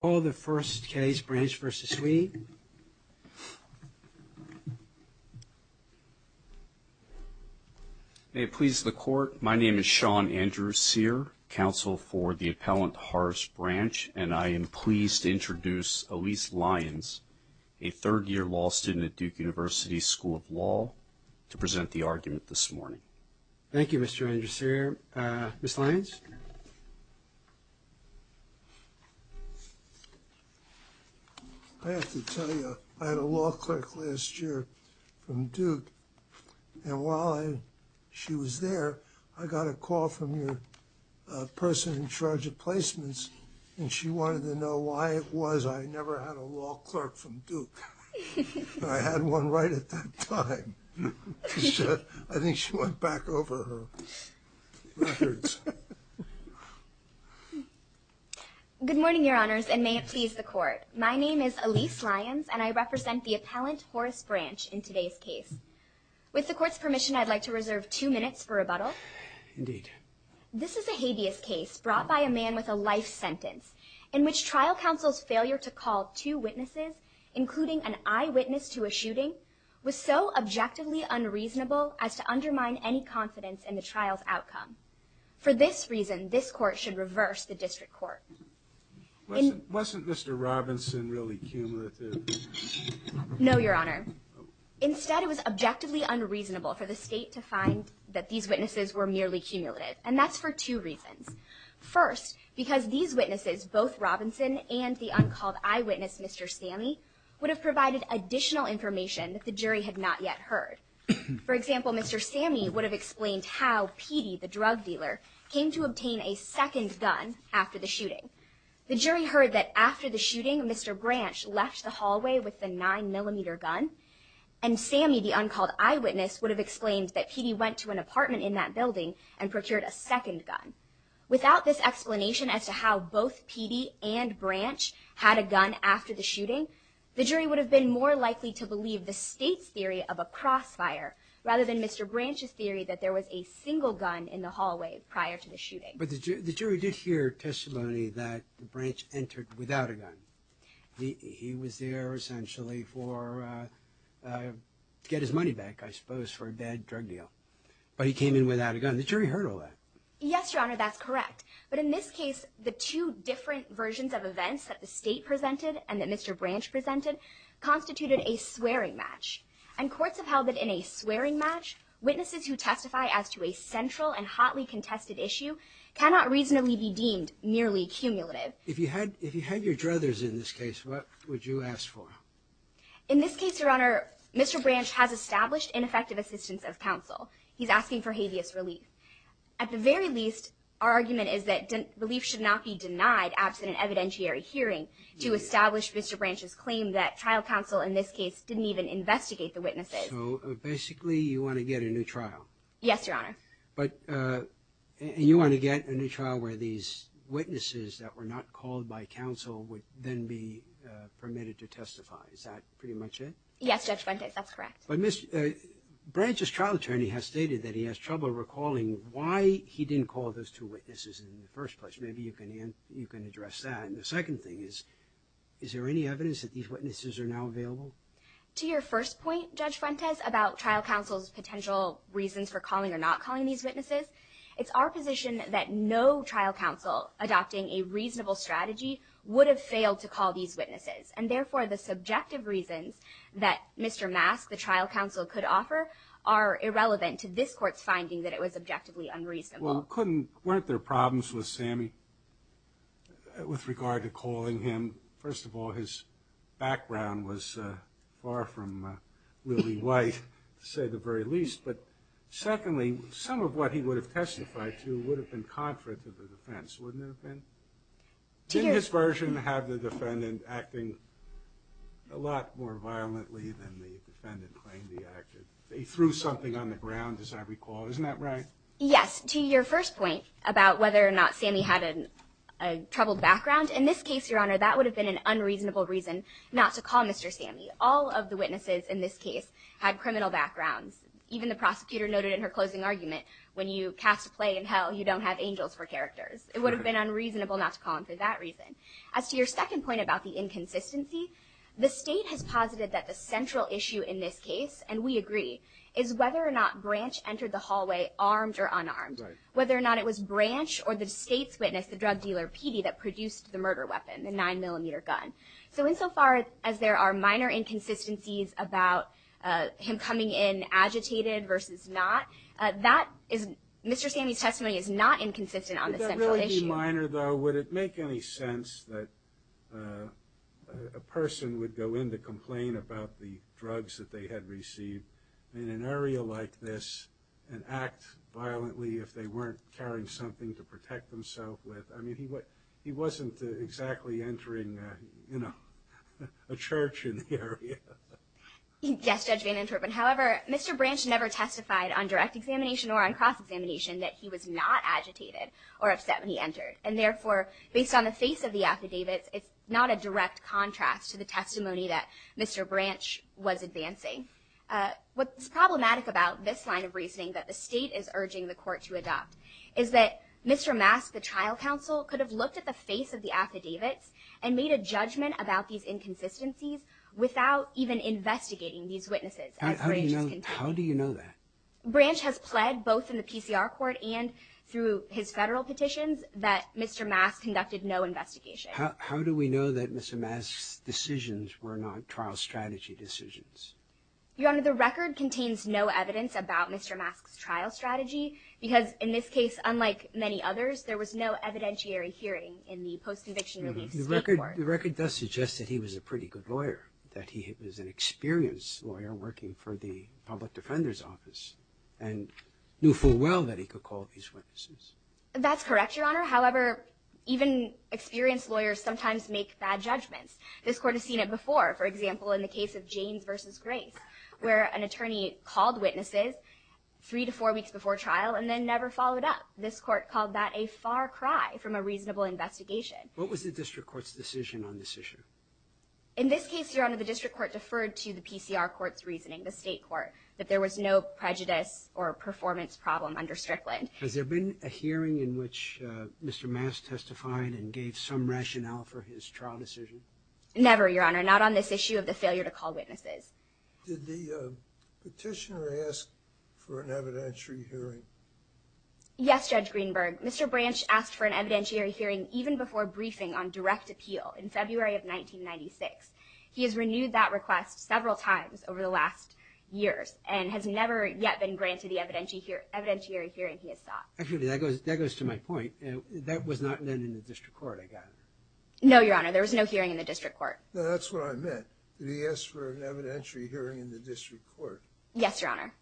Call the first case, Branch v. Sweeney. May it please the court, my name is Sean Andrew Sear, counsel for the appellant Horace Branch, and I am pleased to introduce Elyse Lyons, a third-year law student at Duke University School of Law, to present the argument this morning. Thank you, Mr. Andrew Sear. Ms. Lyons? I have to tell you, I had a law clerk last year from Duke, and while she was there, I got a call from your person in charge of placements, and she wanted to know why it was I never had a law clerk from Duke. I had one right at that time. I think she went back over her records. Good morning, your honors, and may it please the court. My name is Elyse Lyons, and I represent the appellant Horace Branch in today's case. With the court's permission, I'd like to reserve two minutes for rebuttal. Indeed. This is a habeas case brought by a man with a life sentence, in which trial counsel's failure to call two witnesses, including an eyewitness to a shooting, was so objectively unreasonable as to undermine any confidence in the trial's outcome. For this reason, this court should reverse the district court. Wasn't Mr. Robinson really cumulative? No, your honor. Instead, it was objectively unreasonable for the state to find that these witnesses were merely cumulative, and that's for two reasons. First, because these witnesses, both Robinson and the uncalled eyewitness, Mr. Stanley, would have provided additional information that the jury had not yet For example, Mr. Sammy would have explained how Petey, the drug dealer, came to obtain a second gun after the shooting. The jury heard that after the shooting, Mr. Branch left the hallway with the nine millimeter gun, and Sammy, the uncalled eyewitness, would have explained that Petey went to an apartment in that building and procured a second gun. Without this explanation as to how both Petey and Branch had a gun after the shooting, the jury would have been more likely to believe the state's theory of a crossfire rather than Mr. Branch's theory that there was a single gun in the hallway prior to the shooting. But the jury did hear testimony that Branch entered without a gun. He was there essentially for, uh, to get his money back, I suppose, for a bad drug deal. But he came in without a gun. The jury heard all that. Yes, your honor, that's correct. But in this case, the two different versions of events that the state presented and that Mr. Branch presented constituted a swearing match. And courts have held that in a swearing match, witnesses who testify as to a central and hotly contested issue cannot reasonably be deemed merely cumulative. If you had if you had your druthers in this case, what would you ask for? In this case, your honor, Mr. Branch has established ineffective assistance of counsel. He's asking for habeas relief. At the very least, our argument is that relief should not be denied absent an evidentiary hearing to establish Mr. Branch's claim that trial counsel in this case didn't even investigate the witnesses. So, basically, you want to get a new trial? Yes, your honor. But, uh, you want to get a new trial where these witnesses that were not called by counsel would then be permitted to testify. Is that pretty much it? Yes, Judge Fuentes, that's correct. But, uh, Branch's trial attorney has stated that he has trouble recalling why he didn't call those two witnesses in the first place. Maybe you can, the second thing is, is there any evidence that these witnesses are now available? To your first point, Judge Fuentes, about trial counsel's potential reasons for calling or not calling these witnesses, it's our position that no trial counsel adopting a reasonable strategy would have failed to call these witnesses. And, therefore, the subjective reasons that Mr. Mask, the trial counsel, could offer are irrelevant to this court's finding that it was objectively unreasonable. Well, couldn't, weren't there problems with Sammy with regard to calling him? First of all, his background was far from really white, to say the very least. But, secondly, some of what he would have testified to would have been contrary to the defense, wouldn't it have been? Did his version have the defendant acting a lot more violently than the defendant claimed he acted? They threw something on the ground, as I recall. Isn't that right? Yes. To your first point, about whether or not Sammy had a troubled background, in this case, Your Honor, that would have been an unreasonable reason not to call Mr. Sammy. All of the witnesses in this case had criminal backgrounds. Even the prosecutor noted in her closing argument, when you cast a play in hell, you don't have angels for characters. It would have been unreasonable not to call him for that reason. As to your second point about the inconsistency, the State has posited that the central issue in this case, and we agree, is whether or not Branch entered the hallway armed or unarmed. Whether or not it was Branch or the State's witness, the drug dealer, Petey, that produced the murder weapon, the 9mm gun. So insofar as there are minor inconsistencies about him coming in agitated versus not, Mr. Sammy's testimony is not inconsistent on the central issue. Would that really be minor, though? Would it make any sense that a person would go in to complain about the drugs that they had received in an area like this and act violently if they weren't carrying something to protect themselves with? I mean, he wasn't exactly entering, you know, a church in the area. Yes, Judge Van Interpen. However, Mr. Branch never testified on direct examination or on cross-examination that he was not agitated or upset when he entered. And therefore, based on the face of the affidavits, it's not a direct contrast to the testimony that Mr. Branch was advancing. What's problematic about this line of reasoning that the State is urging the court to adopt is that Mr. Mask, the trial counsel, could have looked at the face of the affidavits and made a judgment about these inconsistencies without even investigating these witnesses. How do you know that? Branch has pled both in the PCR court and through his federal petitions that Mr. Mask conducted no investigation. How do we know that Mr. Mask's decisions were not trial strategy decisions? Your Honor, the record contains no evidence about Mr. Mask's trial strategy because in this case, unlike many others, there was no evidentiary hearing in the post-conviction relief state court. The record does suggest that he was a pretty good lawyer, that he was an experienced lawyer working for the public defender's office and knew full well that he could call these witnesses. That's correct, Your Honor. However, even experienced lawyers sometimes make bad judgments. This court has seen it before, for example, in the case of Jaynes v. Grace, where an attorney called witnesses three to four weeks before trial and then never followed up. This court called that a far cry from a reasonable investigation. What was the district court's decision on this issue? In this case, Your Honor, the district court deferred to the PCR court's reasoning, the state court, that there was no prejudice or performance problem under Strickland. Has there been a hearing in which Mr. Mask testified and for his trial decision? Never, Your Honor, not on this issue of the failure to call witnesses. Did the petitioner ask for an evidentiary hearing? Yes, Judge Greenberg. Mr. Branch asked for an evidentiary hearing even before briefing on direct appeal in February of 1996. He has renewed that request several times over the last years and has never yet been granted the evidentiary hearing he has sought. Actually, that goes to my point. That was not done in the district court, no, Your Honor. There was no hearing in the district court. That's what I meant. Did he ask for an evidentiary hearing in the district court? Yes, Your Honor.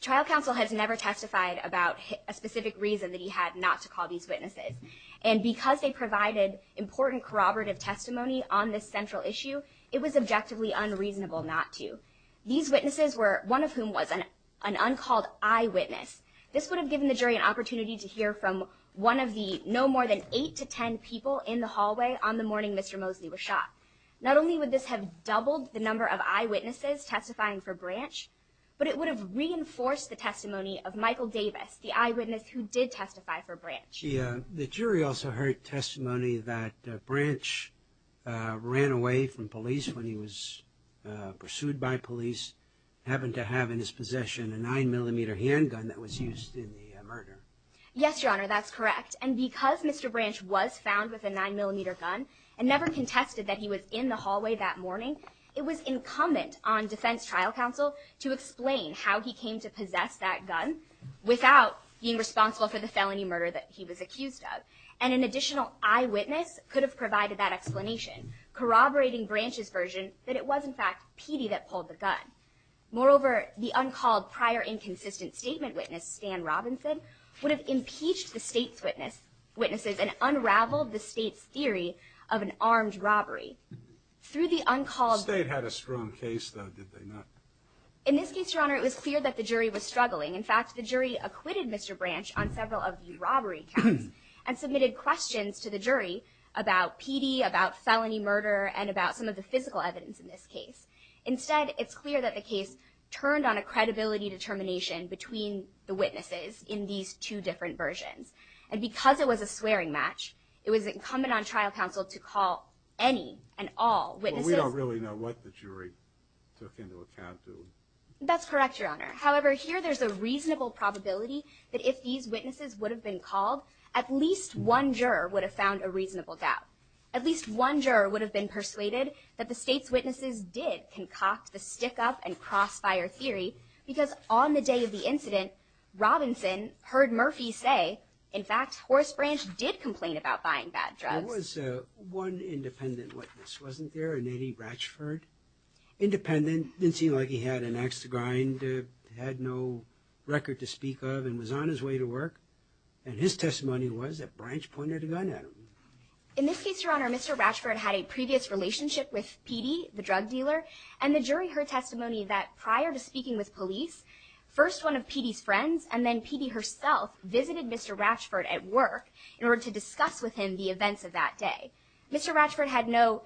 Trial counsel has never testified about a specific reason that he had not to call these witnesses, and because they provided important corroborative testimony on this central issue, it was objectively unreasonable not to. These witnesses were one of whom was an uncalled eyewitness. This would have given the jury an opportunity to hear from one of the no more than eight to ten people in the hallway on the morning Mr. Mosley was shot. Not only would this have doubled the number of eyewitnesses testifying for Branch, but it would have reinforced the testimony of Michael Davis, the eyewitness who did testify for Branch. The jury also heard testimony that Branch ran away from police when he was pursued by police, happened to have in his possession a nine-millimeter handgun that was used in the murder. Yes, Your Honor, that's correct, and because Mr. Branch was found with a nine-millimeter gun and never contested that he was in the hallway that morning, it was incumbent on defense trial counsel to explain how he came to possess that gun without being responsible for the felony murder that he was accused of, and an additional eyewitness could have provided that explanation, corroborating Branch's version that it was in fact Petey that pulled the gun. Moreover, the uncalled prior inconsistent statement witness, Stan Robinson, would have impeached the state's witnesses and unraveled the state's theory of an armed robbery. Through the uncalled... The state had a strong case though, did they not? In this case, Your Honor, it was clear that the jury was struggling. In fact, the jury acquitted Mr. Branch on several of the robbery counts and submitted questions to the jury about Petey, about felony murder, and about some of the physical evidence in this case. Instead, it's clear that the case turned on a credibility determination between the witnesses in these two different versions, and because it was a swearing match, it was incumbent on trial counsel to call any and all witnesses... Well, we don't really know what the jury took into account, do we? That's correct, Your Honor. However, here there's a reasonable probability that if these witnesses would have been called, at least one juror would have found a reasonable doubt. At least one juror would have been persuaded that the state's witnesses did concoct the stick-up and crossfire theory, because on the day of the incident, Robinson heard Murphy say, in fact, Horace Branch did complain about buying bad drugs. There was one independent witness, wasn't there? An Eddie Ratchford. Independent, didn't seem like he had an axe to grind, had no record to speak of, and was on his way to work, and his testimony was that Branch pointed a gun at him. In this case, Your Honor, Mr. Ratchford had a previous relationship with PeeDee, the drug dealer, and the jury heard testimony that prior to speaking with police, first one of PeeDee's friends, and then PeeDee herself, visited Mr. Ratchford at work in order to discuss with him the events of that day. Mr. Ratchford had no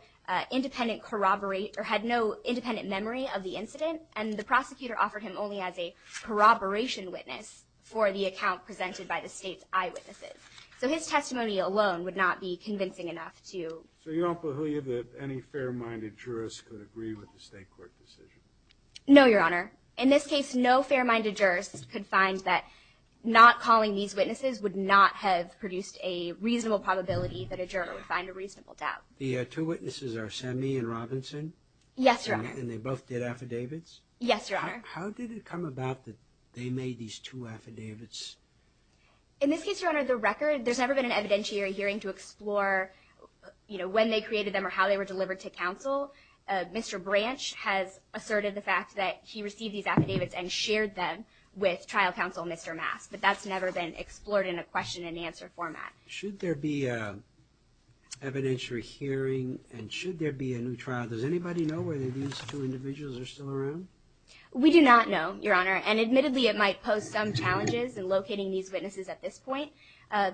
independent corroborate, or had no independent memory of the incident, and the prosecutor offered him only as a corroboration witness for the account presented by the state's eyewitnesses. So his testimony alone would not be convincing enough to... So you don't believe that any fair-minded jurist could agree with the state court decision? No, Your Honor. In this case, no fair-minded jurist could find that not calling these witnesses would not have produced a reasonable probability that a juror would find a reasonable doubt. The two witnesses are Semmy and Robinson? Yes, Your Honor. And they both did two affidavits? In this case, Your Honor, the record, there's never been an evidentiary hearing to explore, you know, when they created them or how they were delivered to counsel. Mr. Branch has asserted the fact that he received these affidavits and shared them with trial counsel Mr. Mass, but that's never been explored in a question-and-answer format. Should there be a evidentiary hearing, and should there be a new trial, does anybody know whether these two locating these witnesses at this point?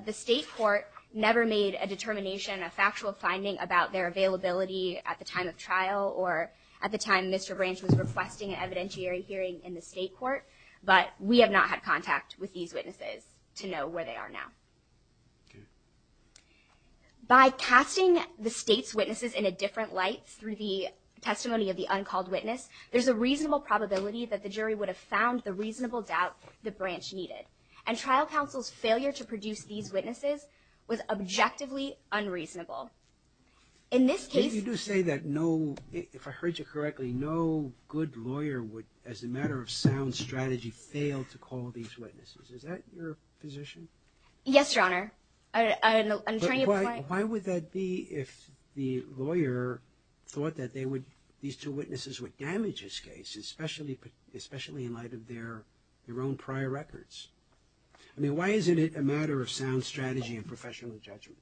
The state court never made a determination, a factual finding about their availability at the time of trial or at the time Mr. Branch was requesting an evidentiary hearing in the state court, but we have not had contact with these witnesses to know where they are now. By casting the state's witnesses in a different light through the testimony of the uncalled witness, there's a reasonable probability that the jury would have the reasonable doubt that Branch needed. And trial counsel's failure to produce these witnesses was objectively unreasonable. In this case... But you do say that no, if I heard you correctly, no good lawyer would, as a matter of sound strategy, fail to call these witnesses. Is that your position? Yes, Your Honor. But why would that be if the lawyer thought that they would, these two witnesses, would damage his case, especially in light of their own prior records? I mean, why isn't it a matter of sound strategy and professional judgment?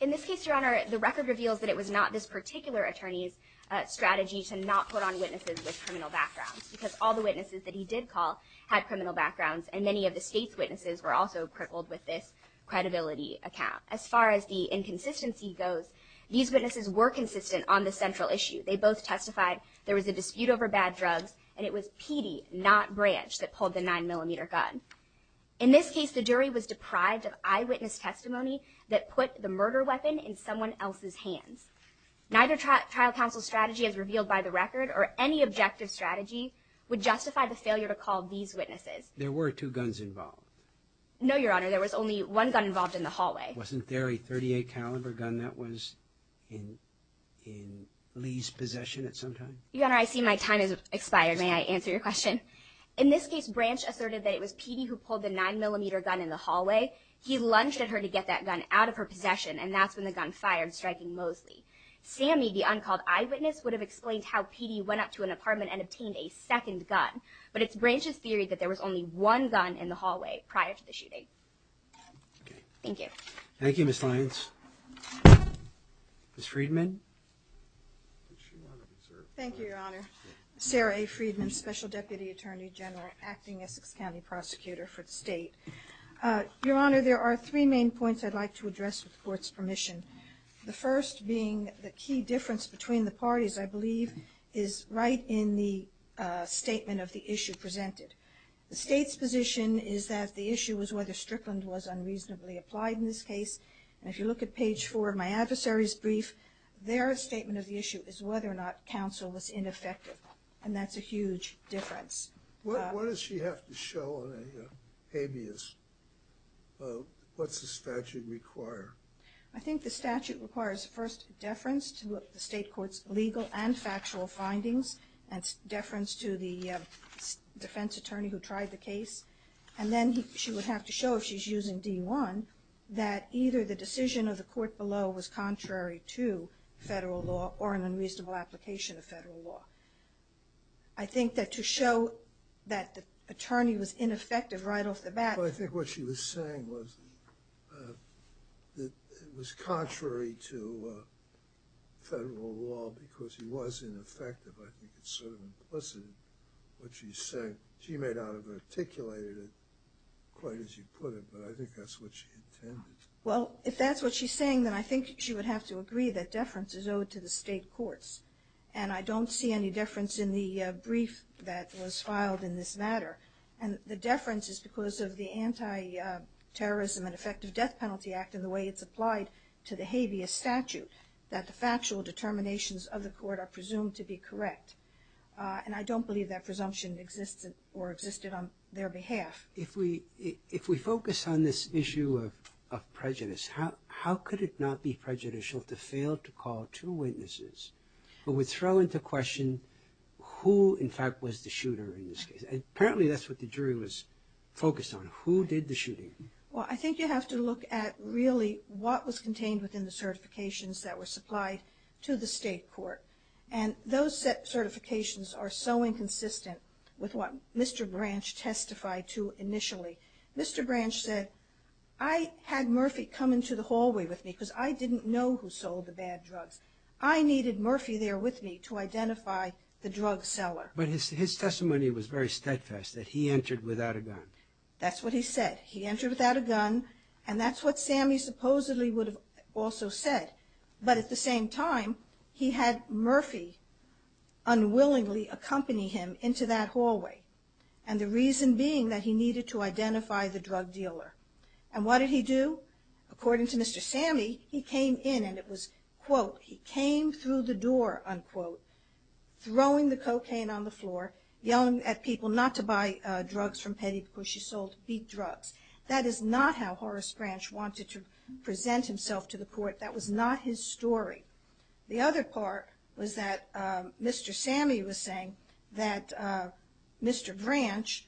In this case, Your Honor, the record reveals that it was not this particular attorney's strategy to not put on witnesses with criminal backgrounds, because all the witnesses that he did call had criminal backgrounds, and many of the state's witnesses were also crippled with this credibility account. As far as the inconsistency goes, these witnesses were consistent on the central issue. They both testified there was a dispute over bad drugs, and it was Petey, not Branch, that pulled the 9-millimeter gun. In this case, the jury was deprived of eyewitness testimony that put the murder weapon in someone else's hands. Neither trial counsel's strategy, as revealed by the record, or any objective strategy, would justify the failure to call these witnesses. There were two guns involved? No, Your Honor, there was only one gun involved in the hallway. Wasn't there a .38 caliber gun that was in Lee's possession at some time? Your Honor, I see my time has expired. May I answer your question? In this case, Branch asserted that it was Petey who pulled the 9-millimeter gun in the hallway. He lunged at her to get that gun out of her possession, and that's when the gun fired, striking Mosley. Sammy, the uncalled eyewitness, would have explained how Petey went up to an apartment and obtained a second gun, but it's Branch's theory that there was only one gun in the hallway prior to the shooting. Thank you. Thank you, Ms. Lyons. Ms. Friedman? Thank you, Your Honor. Sarah A. Friedman, Special Deputy Attorney General, acting Essex County Prosecutor for the State. Your Honor, there are three main points I'd like to address, with the Court's permission. The first being the key difference between the parties, I believe, is right in the statement of the issue presented. The State's position is that the issue was whether Strickland was unreasonably applied in this case, and if you look at page four of my adversary's brief, their statement of the issue is whether or not counsel was ineffective, and that's a huge difference. What does she have to show on a habeas? What's the statute require? I think the statute requires, first, deference to the State Court's legal and factual findings, and deference to the defense attorney who tried the case, and then she would have to show, if she's using D1, that either the decision of the court below was contrary to federal law or an unreasonable application of federal law. I think that to show that the attorney was ineffective right off the bat. Well, I think what she was saying was that it was contrary to federal law because he was ineffective. I think it's sort of implicit in what she said. She may not have articulated it quite as you put it, but I think that's what she intended. Well, if that's what she's saying, then I think she would have to agree that deference is owed to the State Courts, and I don't see any deference in the brief that was filed in this matter, and the deference is because of the Anti-Terrorism and Effective Death Penalty Act and the way it's applied to the habeas statute, that the factual determinations of the court are presumed to be correct, and I don't believe that presumption existed or existed on their behalf. If we focus on this issue of prejudice, how could it not be prejudicial to fail to call two witnesses who throw into question who in fact was the shooter in this case? Apparently that's what the jury was focused on. Who did the shooting? Well, I think you have to look at really what was contained within the certifications that were supplied to the State Court, and those certifications are so inconsistent with what Mr. Branch testified to initially. Mr. Branch said, I had Murphy come to identify the drug seller. But his testimony was very steadfast that he entered without a gun. That's what he said. He entered without a gun, and that's what Sammy supposedly would have also said, but at the same time, he had Murphy unwillingly accompany him into that hallway, and the reason being that he needed to identify the drug dealer, and what did he do? According to Mr. Sammy, he came in and it was, quote, he came through the door, unquote, throwing the cocaine on the floor, yelling at people not to buy drugs from Petty because she sold beat drugs. That is not how Horace Branch wanted to present himself to the Court. That was not his story. The other part was that Mr. Sammy was saying that Mr. Branch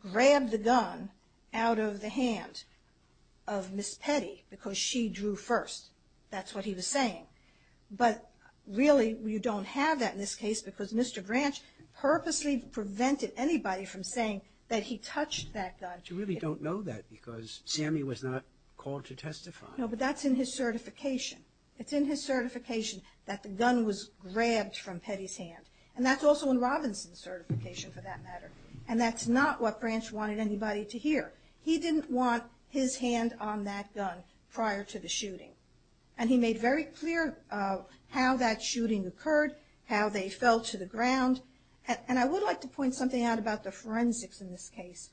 grabbed the gun out of the hand of Miss Petty because she drew first. That's what he was saying. But really, you don't have that in this case because Mr. Branch purposely prevented anybody from saying that he touched that gun. You really don't know that because Sammy was not called to testify. No, but that's in his certification. It's in his certification that the gun was grabbed from Petty's hand, and that's also in Robinson's certification for that matter, and that's not what Branch wanted anybody to hear. He didn't want his hand on that gun prior to the shooting, and he made very clear how that shooting occurred, how they fell to the ground, and I would like to point something out about the forensics in this case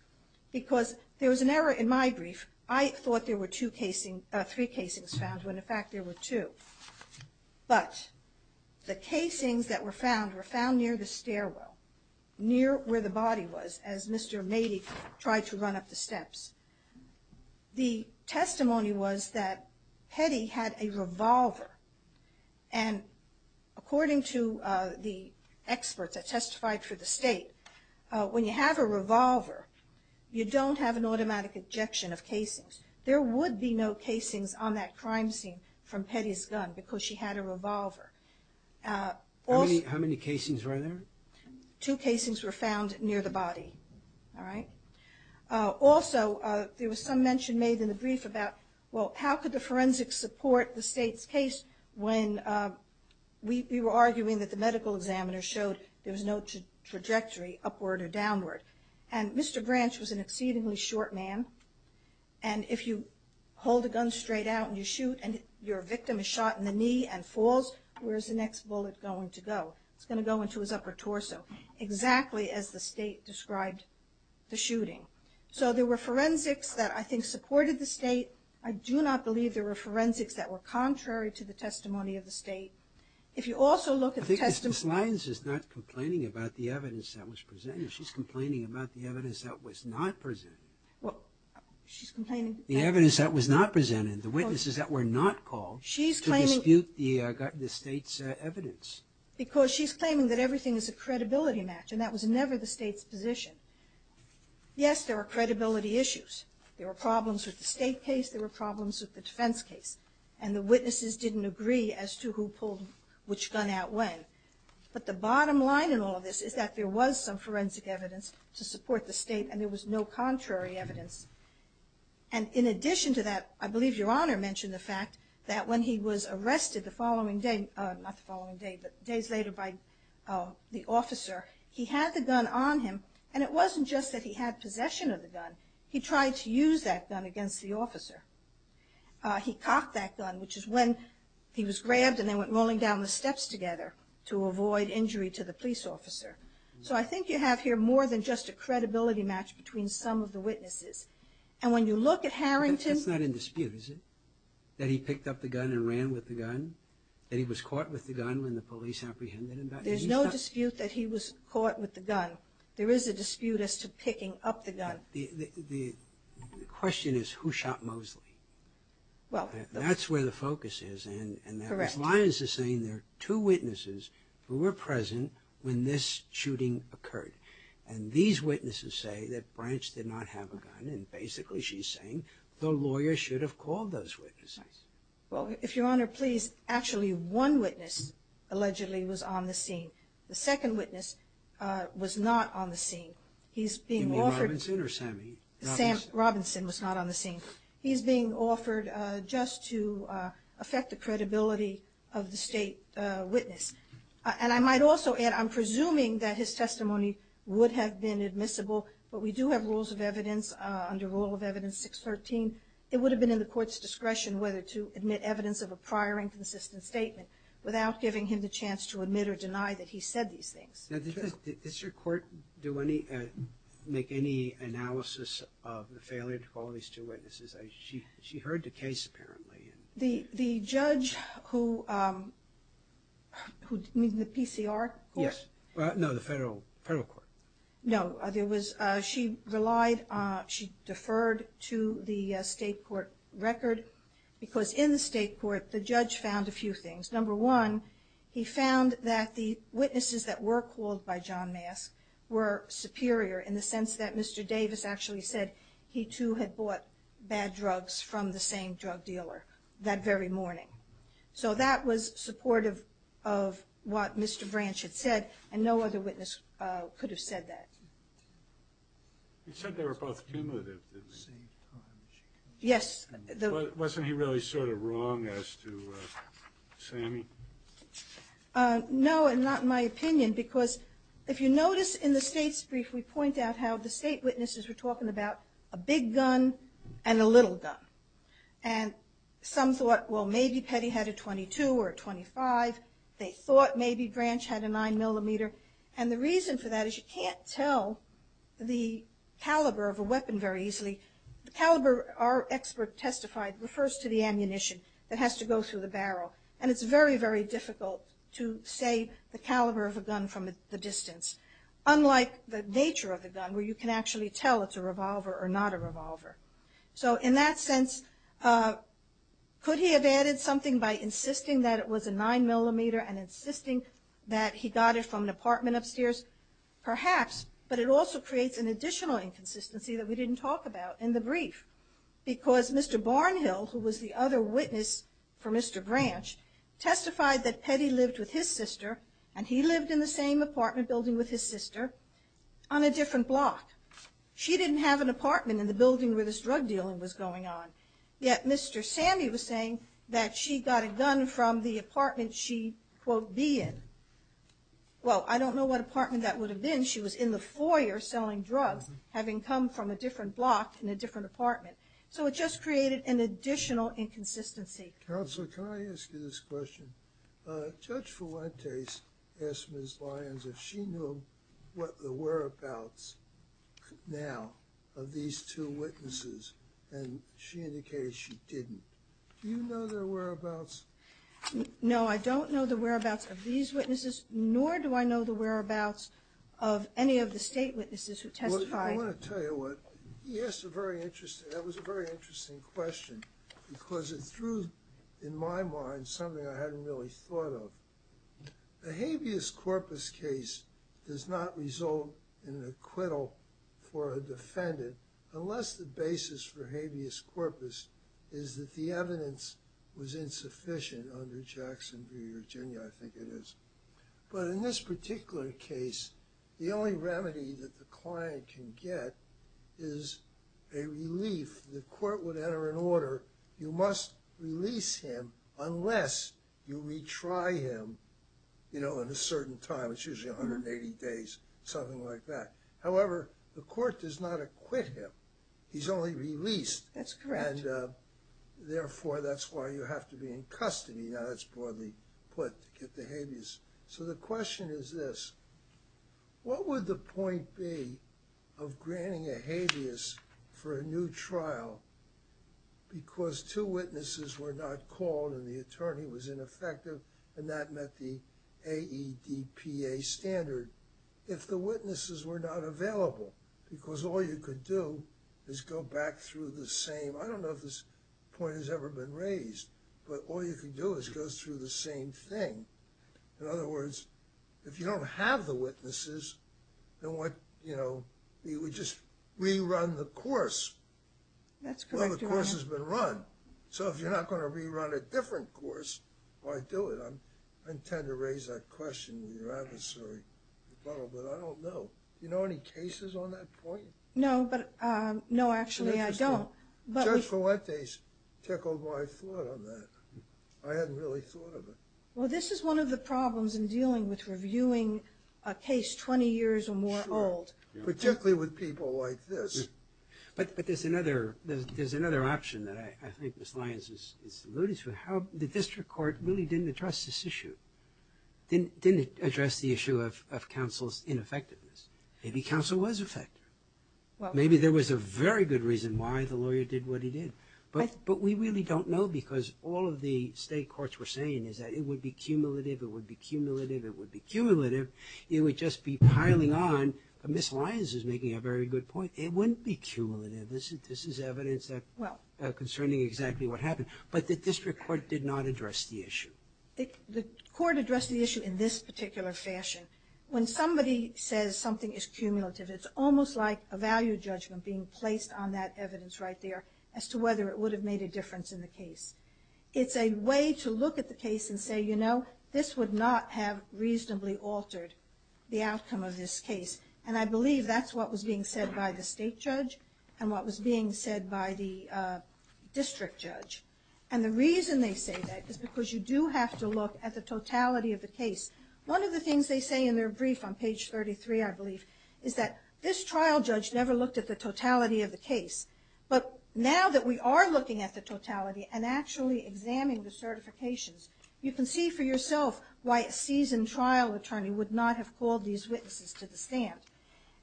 because there was an error in my brief. I thought there were two casings, three casings found when in fact there were two, but the casings that were found were found near the stairwell, near where the body was as Mr. Mady tried to run up the steps. The testimony was that Petty had a revolver, and according to the experts that testified for the state, when you have a revolver, you don't have an automatic ejection of casings. There would be no casings on that crime scene from Petty's gun because she had a revolver. How many casings were there? Two casings were found near the body, all right. Also, there was some mention made in the brief about, well, how could the forensics support the state's case when we were arguing that the medical examiner showed there was no trajectory upward or downward, and Mr. Branch was an exceedingly short man, and if you hold a gun straight out and you shoot and your victim is shot in the knee and falls, where's the next bullet going to go? It's going to go into his upper torso, exactly as the state described the shooting. So there were forensics that I think supported the state. I do not believe there were forensics that were contrary to the testimony of the state. If you also look at the testimony... I think Ms. Lyons is not complaining about the evidence that was presented. She's complaining about the evidence that was not presented. Well, she's complaining... The evidence that was not presented, the witnesses that were not called to dispute the state's evidence. Because she's claiming that everything is a credibility match, and that was never the state's position. Yes, there were credibility issues. There were problems with the state case. There were problems with the defense case, and the witnesses didn't agree as to who pulled which gun out when, but the bottom line in all of this is that there was some forensic evidence to support the state, and there was no contrary evidence. And in addition to that, I believe Your Honor mentioned the fact that when he was arrested the following day... Not the following day, but days later by the officer, he had the gun on him, and it wasn't just that he had possession of the gun. He tried to use that gun against the officer. He cocked that gun, which is when he was grabbed, and they went rolling down the steps together to avoid injury to the credibility match between some of the witnesses. And when you look at Harrington... That's not in dispute, is it? That he picked up the gun and ran with the gun? That he was caught with the gun when the police apprehended him? There's no dispute that he was caught with the gun. There is a dispute as to picking up the gun. The question is, who shot Mosley? That's where the focus is, and Ms. Lyons is saying there are two witnesses who were present when this shooting occurred. And these witnesses say that Branch did not have a gun, and basically she's saying the lawyer should have called those witnesses. Well, if Your Honor please, actually one witness allegedly was on the scene. The second witness was not on the scene. He's being offered... You mean Robinson or Sammy? Robinson was not on the scene. He's being offered just to affect the credibility of the state witness. And I might also add, I'm presuming that his testimony would have been admissible, but we do have rules of evidence under Rule of Evidence 613. It would have been in the court's discretion whether to admit evidence of a prior inconsistent statement without giving him the chance to admit or deny that he said these things. Does your court make any analysis of the failure to call these two witnesses? She heard the case apparently. The judge who, you mean the PCR? Yes, no, the federal court. No, there was, she relied, she deferred to the state court record because in the state court the judge found a few things. Number one, he found that the witnesses that were called by John Mask were superior in the sense that Mr. Davis actually said he too had bought bad drugs from the same drug dealer that very morning. So that was supportive of what Mr. Branch had said and no other witness could have said that. He said they were both cumulative. Yes. Wasn't he really sort of wrong as to Sammy? No and not in my opinion because if you notice in the state's brief we point out how the state witnesses were talking about a big gun and a little gun and some thought well maybe Petty had a 22 or a 25. They thought maybe Branch had a nine millimeter and the reason for that is you can't tell the caliber of a weapon very easily. The caliber our expert testified refers to the to say the caliber of a gun from the distance. Unlike the nature of the gun where you can actually tell it's a revolver or not a revolver. So in that sense could he have added something by insisting that it was a nine millimeter and insisting that he got it from an apartment upstairs? Perhaps, but it also creates an additional inconsistency that we didn't talk about in the brief because Mr. Barnhill who was the other witness for Mr. Branch testified that Petty lived with his sister and he lived in the same apartment building with his sister on a different block. She didn't have an apartment in the building where this drug dealing was going on. Yet Mr. Sammy was saying that she got a gun from the apartment she quote be in. Well I don't know what apartment that would have been. She was in the foyer selling drugs having come from a different block in a different apartment. So it just created an additional inconsistency. Counselor can I ask you this question? Judge Fuentes asked Ms. Lyons if she knew what the whereabouts now of these two witnesses and she indicated she didn't. Do you know their whereabouts? No I don't know the whereabouts of these witnesses nor do I know the whereabouts of any of the state witnesses who testified. I want to tell you what he asked a very interesting that was a very interesting question because it threw in my mind something I hadn't really thought of. The habeas corpus case does not result in an acquittal for a defendant unless the basis for habeas corpus is that the evidence was insufficient under Jackson v. Virginia I think it is. But in this particular case the only remedy that the client can get is a relief the court would enter an order you must release him unless you retry him you know in a certain time it's usually 180 days something like that. However the court does not acquit him he's only released. That's correct. And therefore that's why you have to be in custody now that's broadly put to get the habeas. So the question is this what would the point be of granting a habeas for a new trial because two witnesses were not called and the attorney was ineffective and that met the AEDPA standard if the witnesses were not available because all you could do is go back through the same I don't know if this point has ever been raised but all you can do is go through the same thing in other words if you don't have the witnesses then what you know you would just rerun the course. That's correct. Well the course has been run so if you're not going to rerun a different course why do it I intend to raise that question to your adversary but I don't know you know any cases on that point? No but no actually I don't. Judge Fuentes tickled my foot on that I hadn't really thought of it. Well this is one of the problems in dealing with reviewing a case 20 years or more old particularly with people like this. But there's another there's another option that I think Miss Lyons is alluded to how the district court really didn't address this issue didn't didn't address the issue of counsel's ineffectiveness maybe counsel was affected well maybe there was a very good reason why the lawyer did what he did but but we really don't know because all of the state courts were saying is that it would be cumulative it would be cumulative it would be cumulative it would just be piling on but Miss Lyons is making a very good point it wouldn't be cumulative this is this is evidence that well concerning exactly what happened but the district court did not address the issue. The court addressed the issue in this particular fashion when somebody says something is cumulative it's almost like a value judgment being placed on that evidence right there as to whether it would have made a difference in the case. It's a way to look at the case and say you know this would not have reasonably altered the outcome of this case and I believe that's what was being said by the state judge and what was being said by the district judge and the reason they say that is because you do have to look at the totality of the case. One of the things they say in their brief on page 33 I believe is that this trial judge never looked at the totality of the case but now that we are looking at the totality and actually examining the certifications you can see for yourself why a seasoned trial attorney would not have called these witnesses to the stand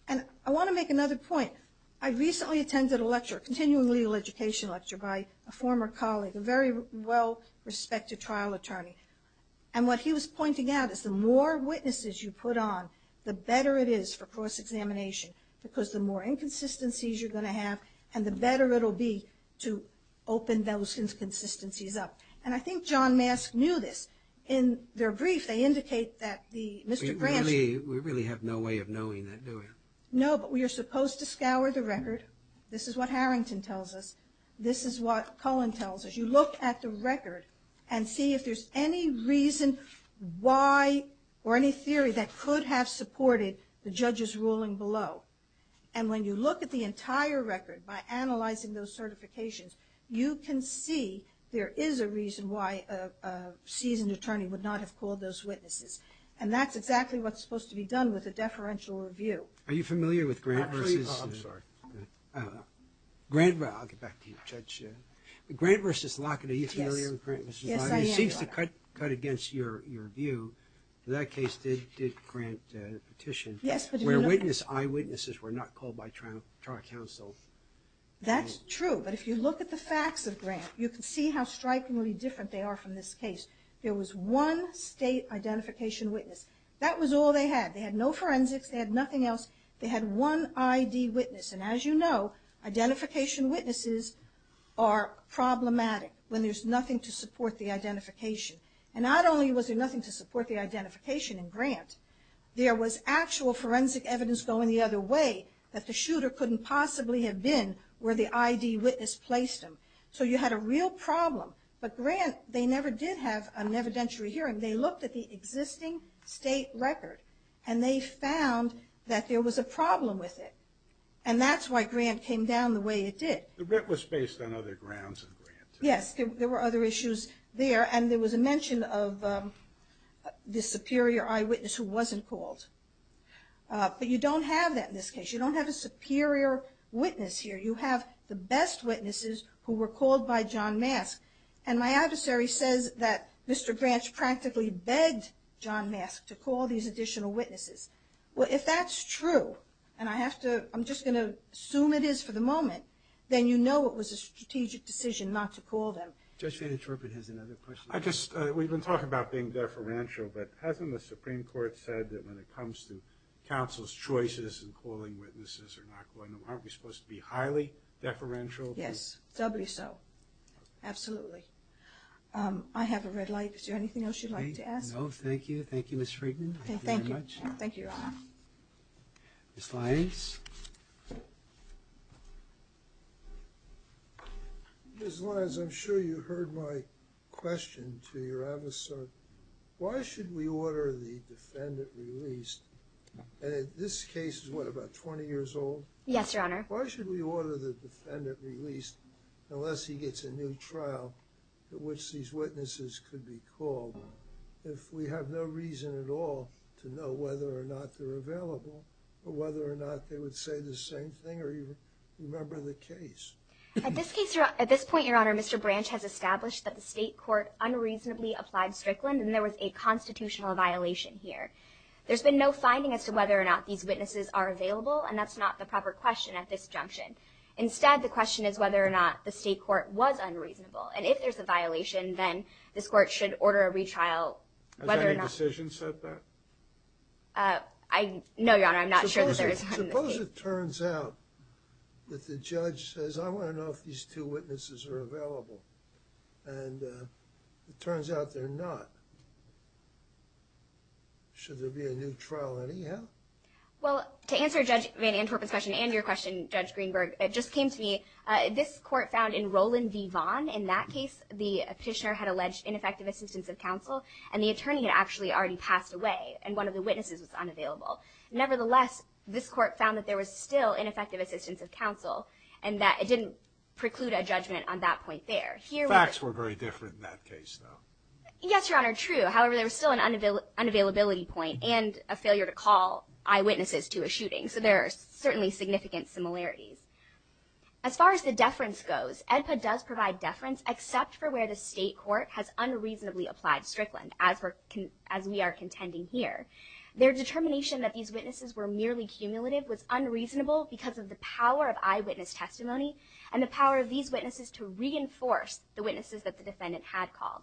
and I want to make another point. I recently attended a lecture continuing legal education lecture by a former colleague a very well respected trial attorney and what he was pointing out is the more witnesses you put on the better it is for cross-examination because the more inconsistencies you're going to have and the better it'll be to open those inconsistencies up and I think John Mask knew this. In their brief they indicate that the Mr. Gramsci. We really have no way of knowing that do we? No but we are supposed to scour the record this is what Cullen tells us. You look at the record and see if there's any reason why or any theory that could have supported the judge's ruling below and when you look at the entire record by analyzing those certifications you can see there is a reason why a seasoned attorney would not have called those witnesses and that's exactly what's supposed to be done with a deferential review. Are you familiar with Grant versus Lockett? Are you familiar with Grant versus Lockett? He seems to cut against your view in that case did Grant petition where eyewitnesses were not called by trial counsel. That's true but if you look at the facts of Grant you can see how strikingly different they are from this case. There was one identification witness. That was all they had. They had no forensics. They had nothing else. They had one ID witness and as you know identification witnesses are problematic when there's nothing to support the identification and not only was there nothing to support the identification in Grant there was actual forensic evidence going the other way that the shooter couldn't possibly have been where the ID witness placed him. So you had a real problem but Grant they never did have an evidentiary hearing. They looked at the existing state record and they found that there was a problem with it and that's why Grant came down the way it did. The writ was based on other grounds in Grant. Yes there were other issues there and there was a mention of the superior eyewitness who wasn't called but you don't have that in this case. You don't have a superior witness here. You have the best witnesses who were called by John Mask and my adversary says that Mr. Grant practically begged John Mask to call these additional witnesses. Well if that's true and I have to I'm just going to assume it is for the moment then you know it was a strategic decision not to call them. Judge Van Interpret has another question. I just we've been talking about being deferential but hasn't the Supreme Court said that when it comes to counsel's choices and aren't we supposed to be highly deferential? Yes doubly so. Absolutely. I have a red light. Is there anything else you'd like to ask? No thank you. Thank you Ms. Friedman. Thank you very much. Thank you. Ms. Lyons. Ms. Lyons I'm sure you heard my question to your adversary. Why should we order the defendant released and in this case is what about 20 years old? Yes your honor. Why should we order the defendant released unless he gets a new trial at which these witnesses could be called if we have no reason at all to know whether or not they're available or whether or not they would say the same thing or even remember the case? At this case at this point your honor Mr. Branch has established that the state court unreasonably applied Strickland and there was a constitutional violation here. There's been no finding as to whether or not these witnesses are available and that's not the proper question at this junction. Instead the question is whether or not the state court was unreasonable and if there's a violation then this court should order a retrial. Has any decision said that? No your honor I'm not sure. Suppose it turns out that the judge says I want to know if these two witnesses are available and it turns out they're not. Should there be a new trial anyhow? Well to answer Judge Van Antorp's question and your question Judge Greenberg it just came to me. This court found in Roland v. Vaughn in that case the petitioner had alleged ineffective assistance of counsel and the attorney had actually already passed away and one of the witnesses was unavailable. Nevertheless this court found that was still ineffective assistance of counsel and that it didn't preclude a judgment on that point there. Facts were very different in that case though. Yes your honor true however there was still an unavailability point and a failure to call eyewitnesses to a shooting so there are certainly significant similarities. As far as the deference goes EDPA does provide deference except for where the state court has unreasonably applied Strickland as we are contending here. Their determination that these witnesses were merely cumulative was unreasonable because of the power of eyewitness testimony and the power of these witnesses to reinforce the witnesses that the defendant had called.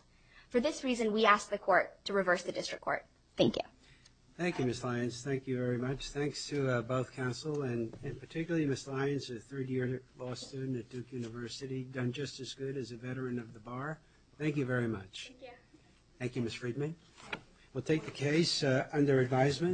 For this reason we ask the court to reverse the district court. Thank you. Thank you Ms. Lyons. Thank you very much. Thanks to both counsel and particularly Ms. Lyons a third year law student at Duke University done just as good as a veteran of the bar. Thank you very much. Thank you. Thank you Ms. Friedman. We'll take the case under advisement.